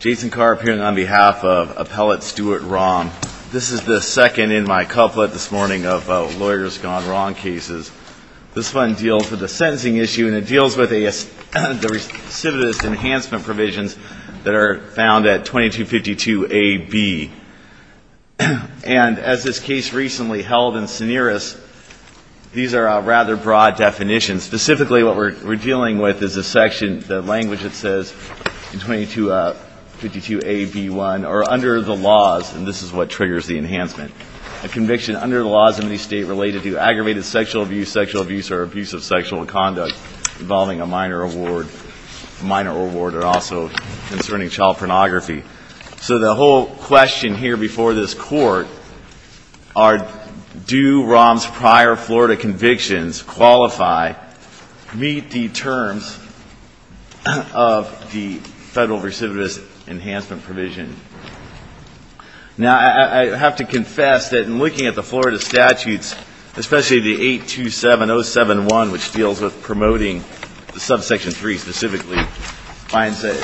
Jason Carr appearing on behalf of Appellate Stuart Romm. This is the second in my couplet this morning of lawyers gone wrong cases. This one deals with a sentencing issue, and it deals with the recidivist enhancement provisions that are found at 2252 A.B. And as this case recently held in Seneris, these are rather broad definitions. And specifically what we're dealing with is a section, the language that says, 2252 A.B. 1, or under the laws, and this is what triggers the enhancement, a conviction under the laws in any state related to aggravated sexual abuse, sexual abuse, or abuse of sexual conduct involving a minor award, a minor award, and also concerning child pornography. So the whole question here before this Court are, do Romm's prior Florida convictions qualify, meet the terms of the federal recidivist enhancement provision? Now, I have to confess that in looking at the Florida statutes, especially the 827-071, which deals with promoting the subsection 3 specifically, finds a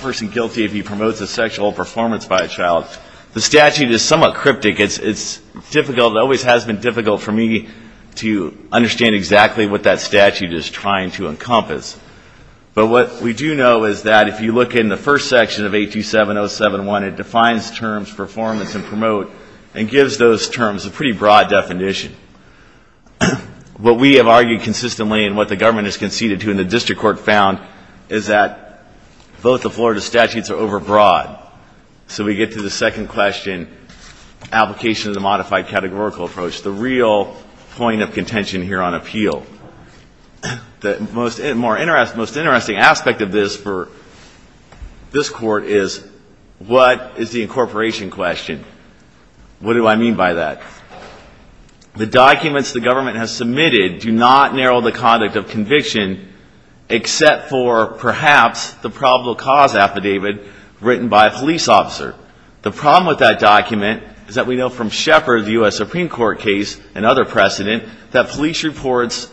person guilty if he promotes a sexual performance by a child. The statute is somewhat cryptic. It's difficult, it always has been difficult for me to understand exactly what that statute is trying to encompass. But what we do know is that if you look in the first section of 827-071, it defines terms, performance and promote, and gives those terms a pretty broad definition. What we have argued consistently and what the government has conceded to and the district court found is that both the Florida statutes are overbroad. So we get to the second question, application of the modified categorical approach, the real point of contention here on appeal. The most interesting aspect of this for this Court is, what is the incorporation question? What do I mean by that? I mean, what is the incorporation except for perhaps the probable cause affidavit written by a police officer? The problem with that document is that we know from Shepard, the U.S. Supreme Court case, and other precedent, that police reports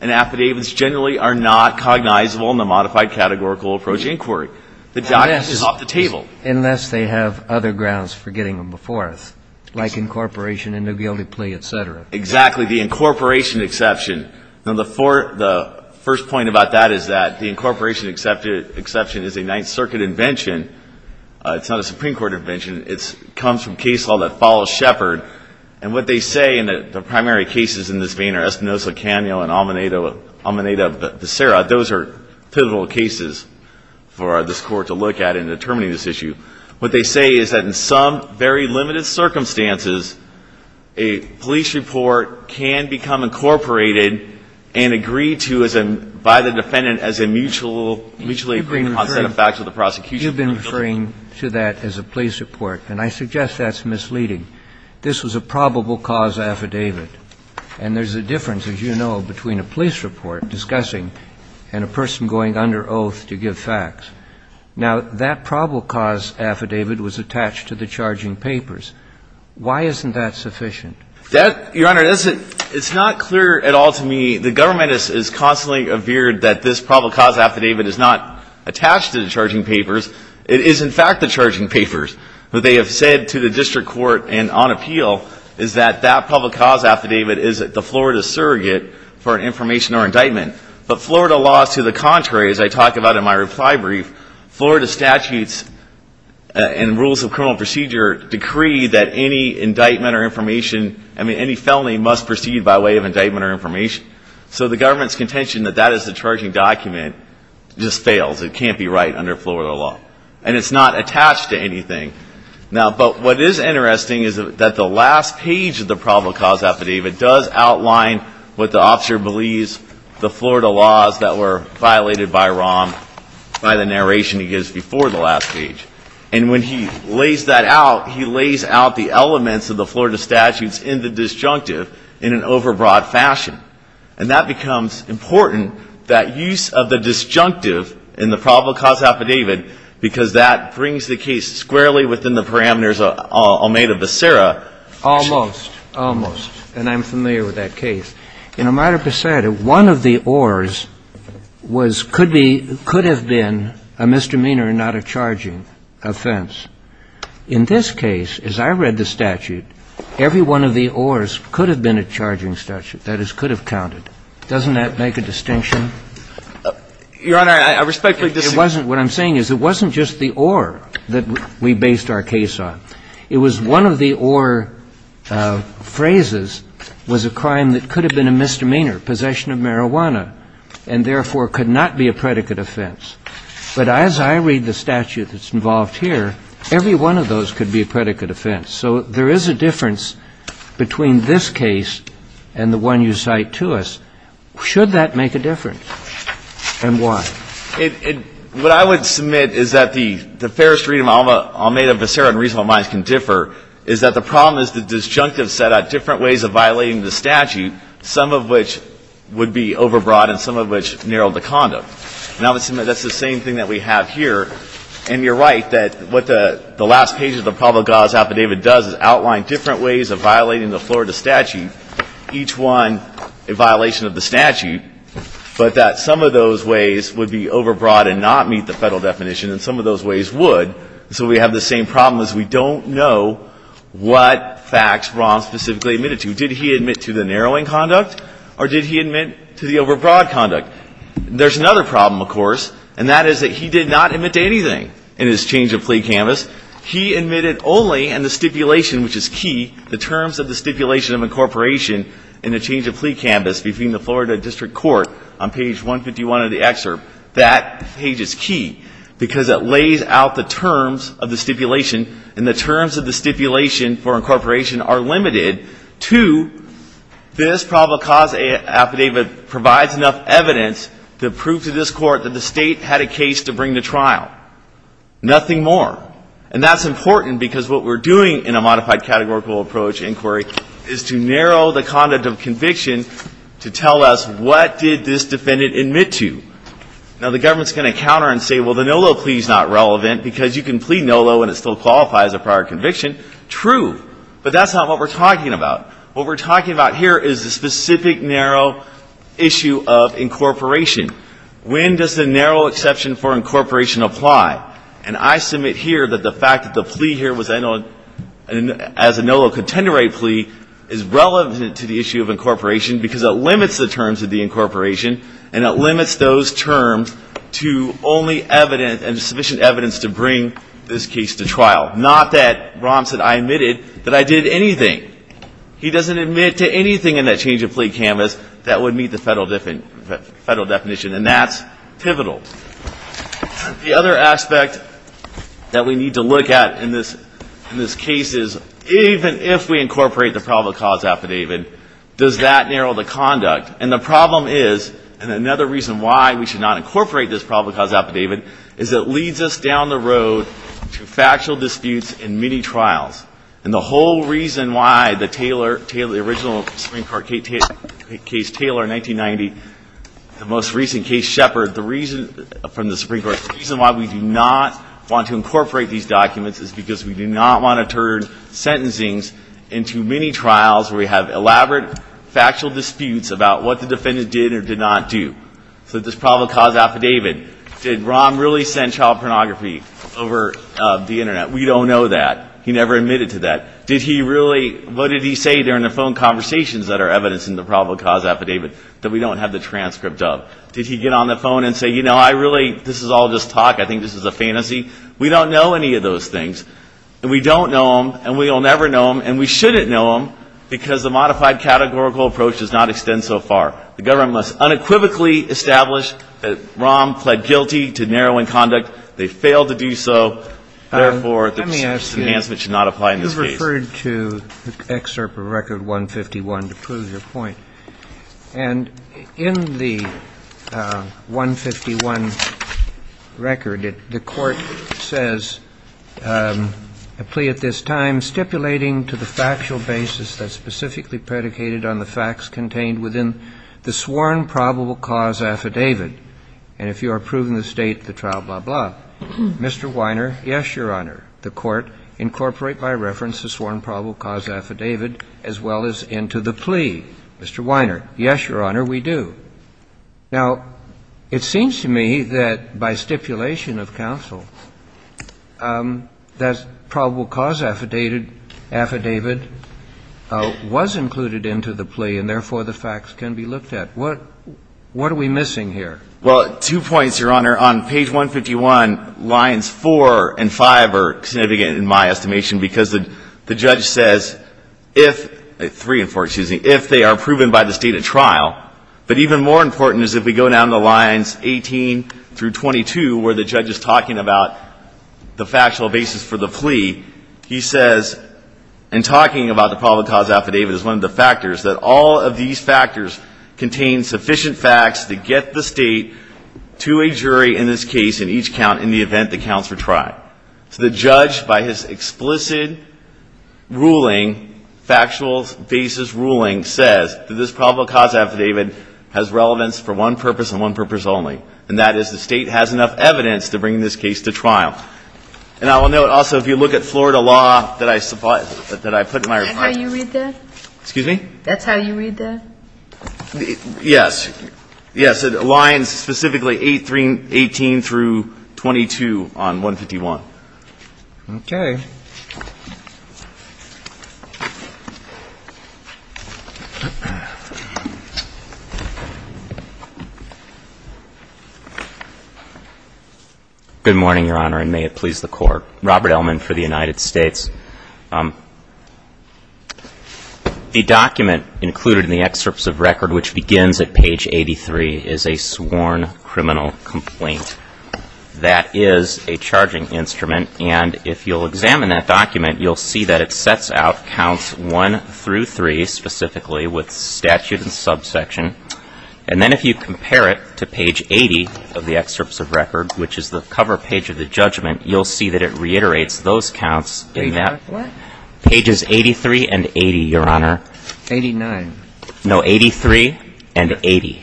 and affidavits generally are not cognizable in the modified categorical approach inquiry. The document is off the table. Unless they have other grounds for getting them before us, like incorporation and a guilty plea, et cetera. Exactly, the incorporation exception. Now, the first point about that is that the incorporation exception is a Ninth Circuit invention. It's not a Supreme Court invention. It comes from case law that follows Shepard. And what they say in the primary cases in this vein are Espinoza, Cano, and Almeida, but those are pivotal cases for this Court to look at in determining this issue. What they say is that in some very limited circumstances, a police report can become incorporated and agree to as a by the defendant as a mutually agreed concept of facts with the prosecution. You've been referring to that as a police report, and I suggest that's misleading. This was a probable cause affidavit, and there's a difference, as you know, between a police report discussing and a person going under oath to give facts. Now, that probable cause affidavit was attached to the charging papers. Why isn't that sufficient? Your Honor, it's not clear at all to me. The government has constantly veered that this probable cause affidavit is not attached to the charging papers. It is, in fact, the charging papers. What they have said to the district court and on appeal is that that probable cause affidavit is the Florida surrogate for an information or indictment. But Florida laws, to the contrary, as I talk about in my reply brief, Florida statutes and rules of criminal procedure decree that any indictment or information, I mean, any felony must proceed by way of indictment or information. So the government's contention that that is the charging document just fails. It can't be right under Florida law. And it's not attached to anything. But what is interesting is that the last page of the probable cause affidavit does outline what the officer believes the Florida laws that were violated by Rahm, by the narration he gives before the last page. And when he lays that out, he lays out the elements of the Florida statutes in the disjunctive in an overbroad fashion. And that becomes important, that use of the disjunctive in the probable cause affidavit, because that brings the case squarely within the parameters of Omeda v. Serra. Almost. Almost. And I'm familiar with that case. In Omeda v. Serra, one of the ors was, could be, could have been a misdemeanor and not a charging offense. In this case, as I read the statute, every one of the ors could have been a charging statute, that is, could have counted. Doesn't that make a distinction? Your Honor, I respectfully disagree. It wasn't. What I'm saying is it wasn't just the or that we based our case on. It was one of the or phrases was a crime that could have been a misdemeanor, possession of marijuana, and therefore could not be a predicate offense. But as I read the statute that's involved here, every one of those could be a predicate offense. So there is a difference between this case and the one you cite to us. Should that make a difference? And why? What I would submit is that the fairest read of Omeda v. Serra in reasonable minds can differ, is that the problem is the disjunctive set out different ways of violating the statute, some of which would be overbroad and some of which narrowed the condom. And I would submit that's the same thing that we have here. And you're right that what the last page of the Provo-Gaz affidavit does is outline different ways of violating the Florida statute, each one a violation of the statute, but that some of those ways would be overbroad and not meet the Federal definition and some of those ways would. So we have the same problem is we don't know what facts Brown specifically admitted to. Did he admit to the narrowing conduct or did he admit to the overbroad conduct? There's another problem, of course, and that is that he did not admit to anything in his change of plea canvas. He admitted only in the stipulation, which is key, the terms of the stipulation of incorporation in the change of plea canvas between the Florida district court on page 151 of the excerpt. That page is key because it lays out the terms of the stipulation, and the terms of the stipulation for incorporation are limited to this Provo-Gaz affidavit provides enough evidence to prove to this Court that the State had a case to bring to trial. Nothing more. And that's important because what we're doing in a modified categorical approach inquiry is to narrow the conduct of conviction to tell us what did this defendant admit to. Now, the government is going to counter and say, well, the NOLO plea is not relevant because you can plea NOLO and it still qualifies a prior conviction. True. But that's not what we're talking about. What we're talking about here is the specific narrow issue of incorporation. When does the narrow exception for incorporation apply? And I submit here that the fact that the plea here was NOLO as a NOLO contender rate plea is relevant to the issue of incorporation because it limits the terms of the incorporation, and it limits those terms to only evidence and sufficient evidence to bring this case to trial. Not that Rahm said I admitted that I did anything. He doesn't admit to anything in that change of plea canvas that would meet the Federal definition. And that's pivotal. The other aspect that we need to look at in this case is even if we incorporate the probable cause affidavit, does that narrow the conduct? And the problem is, and another reason why we should not incorporate this probable cause affidavit, is it leads us down the road to factual disputes in many trials. And the whole reason why the Taylor, the original Supreme Court case Taylor in 1990, the most recent case Shepard, the reason from the Supreme Court, the reason why we do not want to incorporate these documents is because we do not want to turn sentencings into many trials where we have elaborate factual disputes about what the defendant did or did not do. So this probable cause affidavit, did Rahm really send child pornography over the Internet? We don't know that. He never admitted to that. Did he really, what did he say during the phone conversations that are evidence in the probable cause affidavit that we don't have the transcript of? Did he get on the phone and say, you know, I really, this is all just talk. I think this is a fantasy. We don't know any of those things. And we don't know them, and we will never know them, and we shouldn't know them because the modified categorical approach does not extend so far. The government must unequivocally establish that Rahm pled guilty to narrowing conduct. They failed to do so. Therefore, the enhancement should not apply in this case. I referred to the excerpt of record 151 to prove your point. And in the 151 record, the court says, a plea at this time stipulating to the factual basis that's specifically predicated on the facts contained within the sworn probable cause affidavit. And if you are proving the state, the trial, blah, blah. Mr. Weiner? Yes, Your Honor. The court incorporate by reference the sworn probable cause affidavit as well as into the plea. Mr. Weiner? Yes, Your Honor, we do. Now, it seems to me that by stipulation of counsel, that probable cause affidavit was included into the plea, and therefore the facts can be looked at. What are we missing here? Well, two points, Your Honor. On page 151, lines 4 and 5 are significant, in my estimation, because the judge says, if, 3 and 4, excuse me, if they are proven by the state at trial. But even more important is if we go down to lines 18 through 22, where the judge is talking about the factual basis for the plea, he says, and talking about the probable cause affidavit is one of the factors, that all of these factors contain sufficient facts to get the state to a jury in this case in each count in the event the counts were tried. So the judge, by his explicit ruling, factual basis ruling, says that this probable cause affidavit has relevance for one purpose and one purpose only, and that is the state has enough evidence to bring this case to trial. And I will note, also, if you look at Florida law that I put in my report. Is that how you read that? Excuse me? That's how you read that? Yes. Yes. It aligns specifically 8, 3, 18 through 22 on 151. Okay. Good morning, Your Honor, and may it please the Court. Robert Ellman for the United States. The document included in the excerpts of record which begins at page 83 is a sworn criminal complaint. That is a charging instrument, and if you'll examine that document, you'll see that it sets out counts 1 through 3 specifically with statute and subsection. And then if you compare it to page 80 of the excerpts of record, which is the cover page of the judgment, you'll see that it reiterates those counts in that format. What? Pages 83 and 80, Your Honor. 89. No, 83 and 80.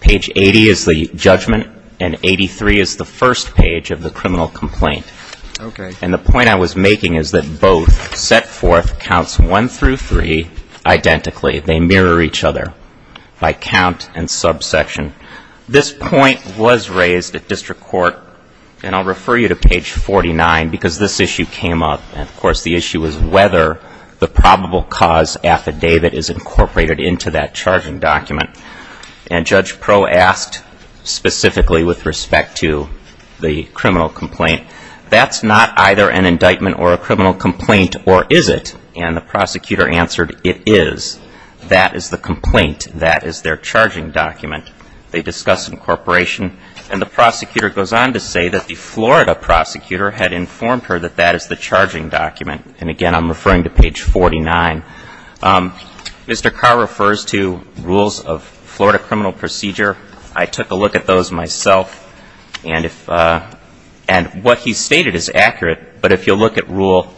Page 80 is the judgment, and 83 is the first page of the criminal complaint. Okay. And the point I was making is that both set forth counts 1 through 3 identically. They mirror each other by count and subsection. This point was raised at district court, and I'll refer you to page 49 because this issue came up. And, of course, the issue is whether the probable cause affidavit is incorporated into that charging document. And Judge Proe asked specifically with respect to the criminal complaint, that's not either an indictment or a criminal complaint, or is it? And the prosecutor answered, it is. That is the complaint. That is their charging document. They discuss incorporation, and the prosecutor goes on to say that the Florida prosecutor had informed her that that is the charging document. And, again, I'm referring to page 49. Mr. Carr refers to rules of Florida criminal procedure. I took a look at those myself, and what he stated is accurate. But if you'll look at rule,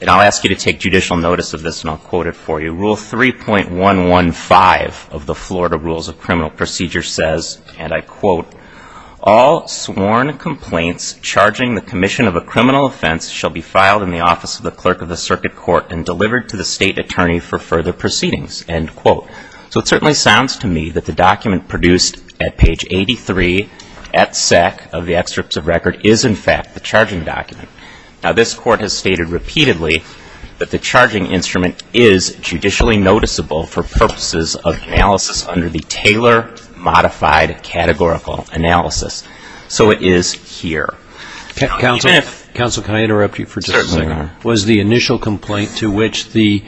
and I'll ask you to take judicial notice of this, and I'll quote it for you. Rule 3.115 of the Florida Rules of Criminal Procedure says, and I quote, all sworn complaints charging the commission of a criminal offense shall be filed in the office of the clerk of the circuit court and delivered to the state attorney for further proceedings, end quote. So it certainly sounds to me that the document produced at page 83 at SEC of the excerpts of record is, in fact, the charging document. Now, this court has stated repeatedly that the charging instrument is judicially noticeable for purposes of analysis under the Taylor modified categorical analysis. So it is here. Counsel, can I interrupt you for just a second? Certainly, Your Honor. Was the initial complaint to which the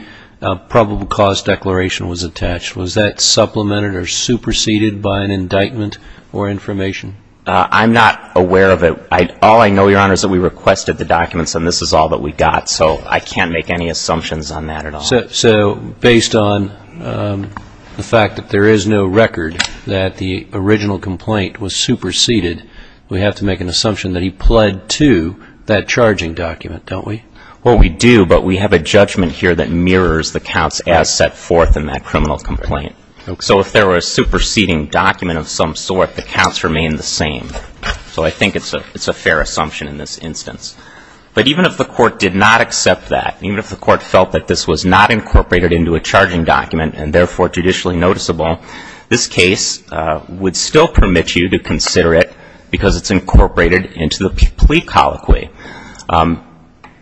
probable cause declaration was attached, was that supplemented or superseded by an indictment or information? I'm not aware of it. All I know, Your Honor, is that we requested the documents, and this is all that we got. So I can't make any assumptions on that at all. So based on the fact that there is no record that the original complaint was superseded, we have to make an assumption that he pled to that charging document, don't we? Well, we do, but we have a judgment here that mirrors the counts as set forth in that criminal complaint. So if there were a superseding document of some sort, the counts remain the same. So I think it's a fair assumption in this instance. But even if the court did not accept that, even if the court felt that this was not incorporated into a charging document and, therefore, judicially noticeable, this case would still permit you to consider it because it's incorporated into the plea colloquy.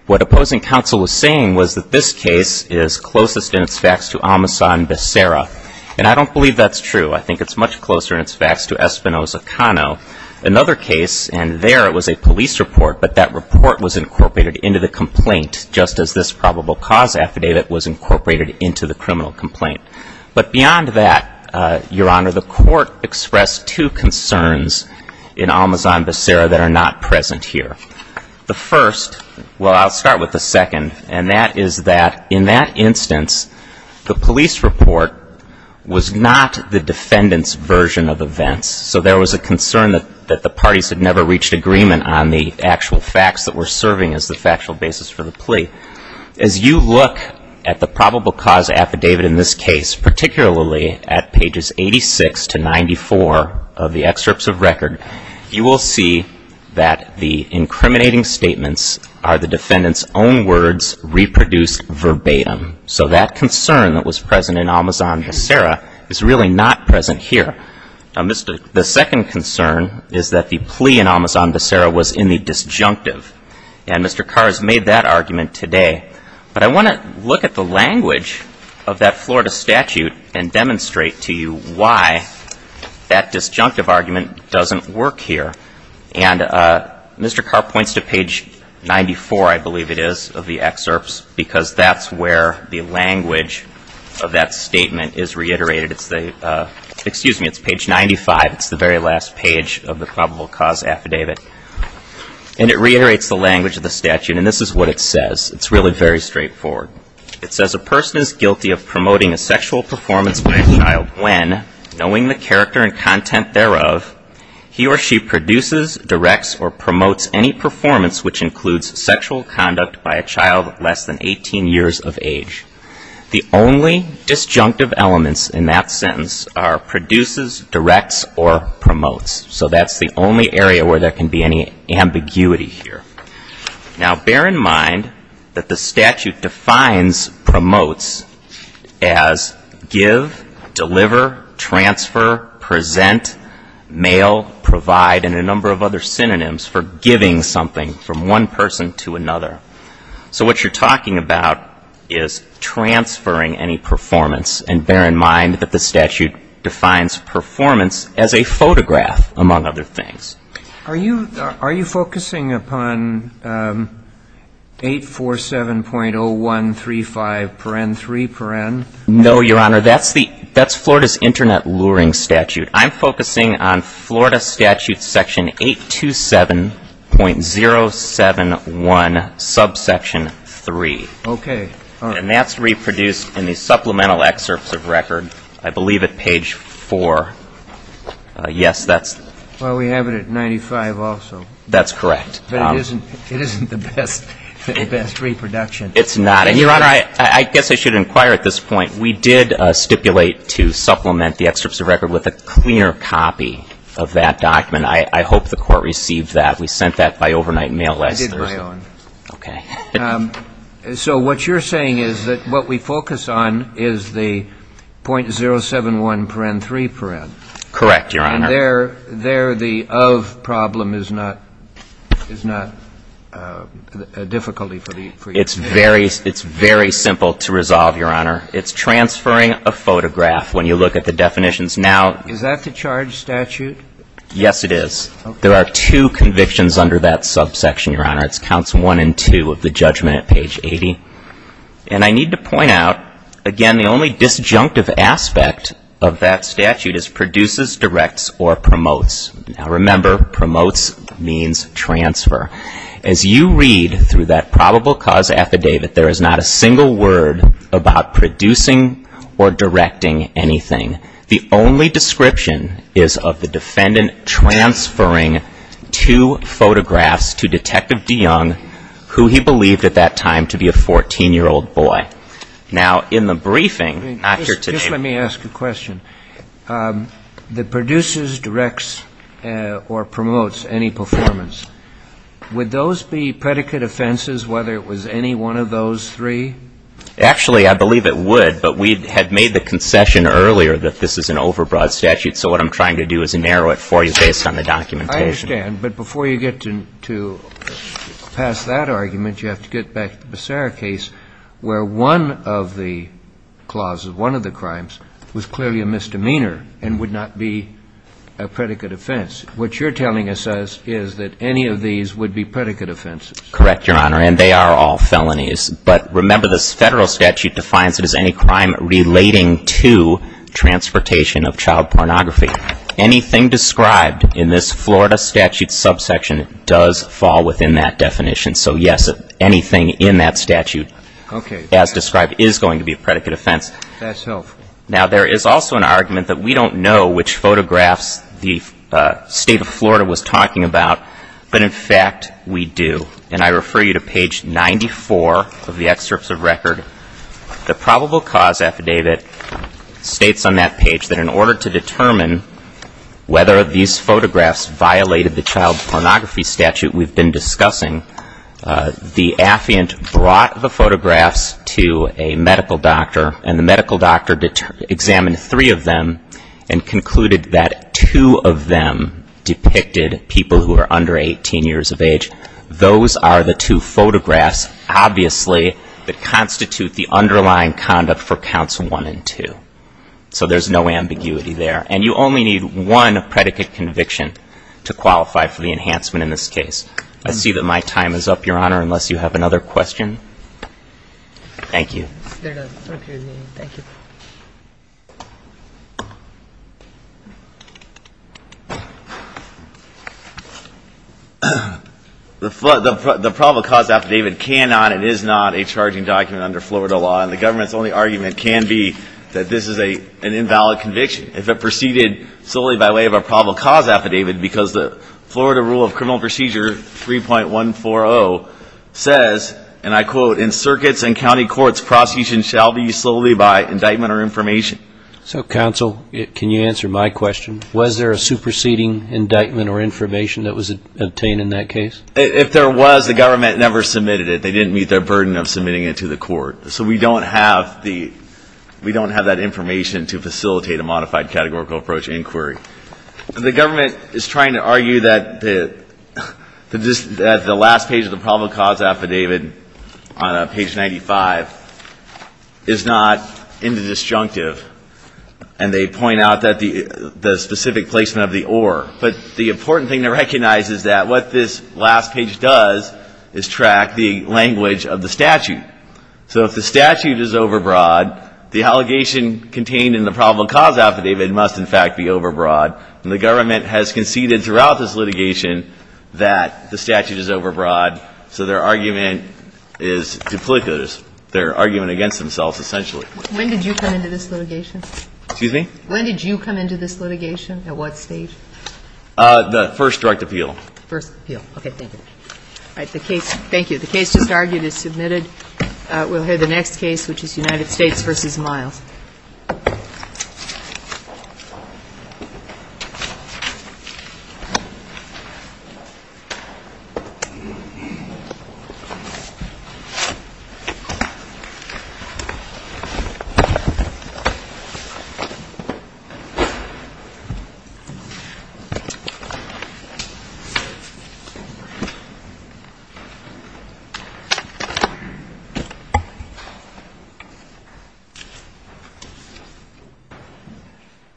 What opposing counsel was saying was that this case is closest in its facts to Almasa and Becerra, and I don't believe that's true. I think it's much closer in its facts to Espinoza-Cano. Another case, and there it was a police report, but that report was incorporated into the complaint, just as this probable cause affidavit was incorporated into the criminal complaint. But beyond that, Your Honor, the court expressed two concerns in Almasa and Becerra that are not present here. The first, well, I'll start with the second, and that is that in that instance the police report was not the defendant's version of events. So there was a concern that the parties had never reached agreement on the actual facts that were serving as the factual basis for the plea. As you look at the probable cause affidavit in this case, particularly at pages 86 to 94 of the excerpts of record, you will see that the incriminating statements are the defendant's own words reproduced verbatim. So that concern that was present in Almasa and Becerra is really not present here. The second concern is that the plea in Almasa and Becerra was in the disjunctive, and Mr. Carr has made that argument today. But I want to look at the language of that Florida statute and demonstrate to you why that disjunctive argument doesn't work here. And Mr. Carr points to page 94, I believe it is, of the excerpts because that's where the language of that statement is reiterated. Excuse me, it's page 95. It's the very last page of the probable cause affidavit. And it reiterates the language of the statute, and this is what it says. It's really very straightforward. It says, A person is guilty of promoting a sexual performance by a child when, knowing the character and content thereof, he or she produces, directs, or promotes any performance which includes sexual conduct by a child less than 18 years of age. The only disjunctive elements in that sentence are produces, directs, or promotes. So that's the only area where there can be any ambiguity here. Now, bear in mind that the statute defines promotes as give, deliver, transfer, present, mail, provide, and a number of other synonyms for giving something from one person to another. So what you're talking about is transferring any performance. And bear in mind that the statute defines performance as a photograph, among other things. Are you focusing upon 847.0135, 3? No, Your Honor. That's Florida's internet luring statute. I'm focusing on Florida statute section 827.071, subsection 3. Okay. And that's reproduced in the supplemental excerpts of record, I believe at page 4. Yes, that's the one. Well, we have it at 95 also. That's correct. But it isn't the best reproduction. It's not. And, Your Honor, I guess I should inquire at this point. We did stipulate to supplement the excerpts of record with a clear copy of that document. I hope the Court received that. We sent that by overnight mail last Thursday. I did my own. Okay. So what you're saying is that what we focus on is the .071, 3? Correct, Your Honor. And there the of problem is not a difficulty for you? It's very simple to resolve, Your Honor. It's transferring a photograph when you look at the definitions. Now, is that the charge statute? Yes, it is. Okay. There are two convictions under that subsection, Your Honor. It's counts 1 and 2 of the judgment at page 80. And I need to point out, again, the only disjunctive aspect of that statute is produces, directs, or promotes. Now, remember, promotes means transfer. As you read through that probable cause affidavit, there is not a single word about producing or directing anything. The only description is of the defendant transferring two photographs to Detective DeYoung, who he believed at that time to be a 14-year-old boy. Now, in the briefing, not here today. Just let me ask a question. The produces, directs, or promotes any performance. Would those be predicate offenses, whether it was any one of those three? Actually, I believe it would. But we had made the concession earlier that this is an overbroad statute. So what I'm trying to do is narrow it for you based on the documentation. I understand. But before you get to pass that argument, you have to get back to the Becerra case, where one of the clauses, one of the crimes, was clearly a misdemeanor and would not be a predicate offense. What you're telling us is that any of these would be predicate offenses. Correct, Your Honor. And they are all felonies. But remember, this Federal statute defines it as any crime relating to transportation of child pornography. Anything described in this Florida statute subsection does fall within that definition. So, yes, anything in that statute as described is going to be a predicate offense. That's helpful. Now, there is also an argument that we don't know which photographs the State of Florida was talking about. But, in fact, we do. And I refer you to page 94 of the excerpts of record. The probable cause affidavit states on that page that in order to determine whether these photographs violated the child pornography statute we've been discussing, the affiant brought the photographs to a medical doctor. And the medical doctor examined three of them and concluded that two of them were the two photographs, obviously, that constitute the underlying conduct for counts one and two. So there's no ambiguity there. And you only need one predicate conviction to qualify for the enhancement in this case. I see that my time is up, Your Honor, unless you have another question. Thank you. The probable cause affidavit cannot and is not a charging document under Florida law. And the government's only argument can be that this is an invalid conviction if it proceeded solely by way of a probable cause affidavit because the Florida Rule of Criminal Procedure 3.140 says, and I quote, in circuits and county courts, prosecution shall be solely by indictment or information. So, counsel, can you answer my question? Was there a superseding indictment or information that was obtained in that case? If there was, the government never submitted it. They didn't meet their burden of submitting it to the court. So we don't have that information to facilitate a modified categorical approach inquiry. The government is trying to argue that the last page of the probable cause affidavit on page 95 is not indisjunctive, and they point out that the specific placement of the or. But the important thing to recognize is that what this last page does is track the language of the statute. So if the statute is overbroad, the allegation contained in the probable cause affidavit must, in fact, be overbroad. And the government has conceded throughout this litigation that the statute is duplicitous. They're arguing against themselves, essentially. When did you come into this litigation? Excuse me? When did you come into this litigation? At what stage? The first direct appeal. First appeal. Okay. Thank you. All right. The case, thank you. The case just argued is submitted. We'll hear the next case, which is United States v. Miles. Thank you. Thank you.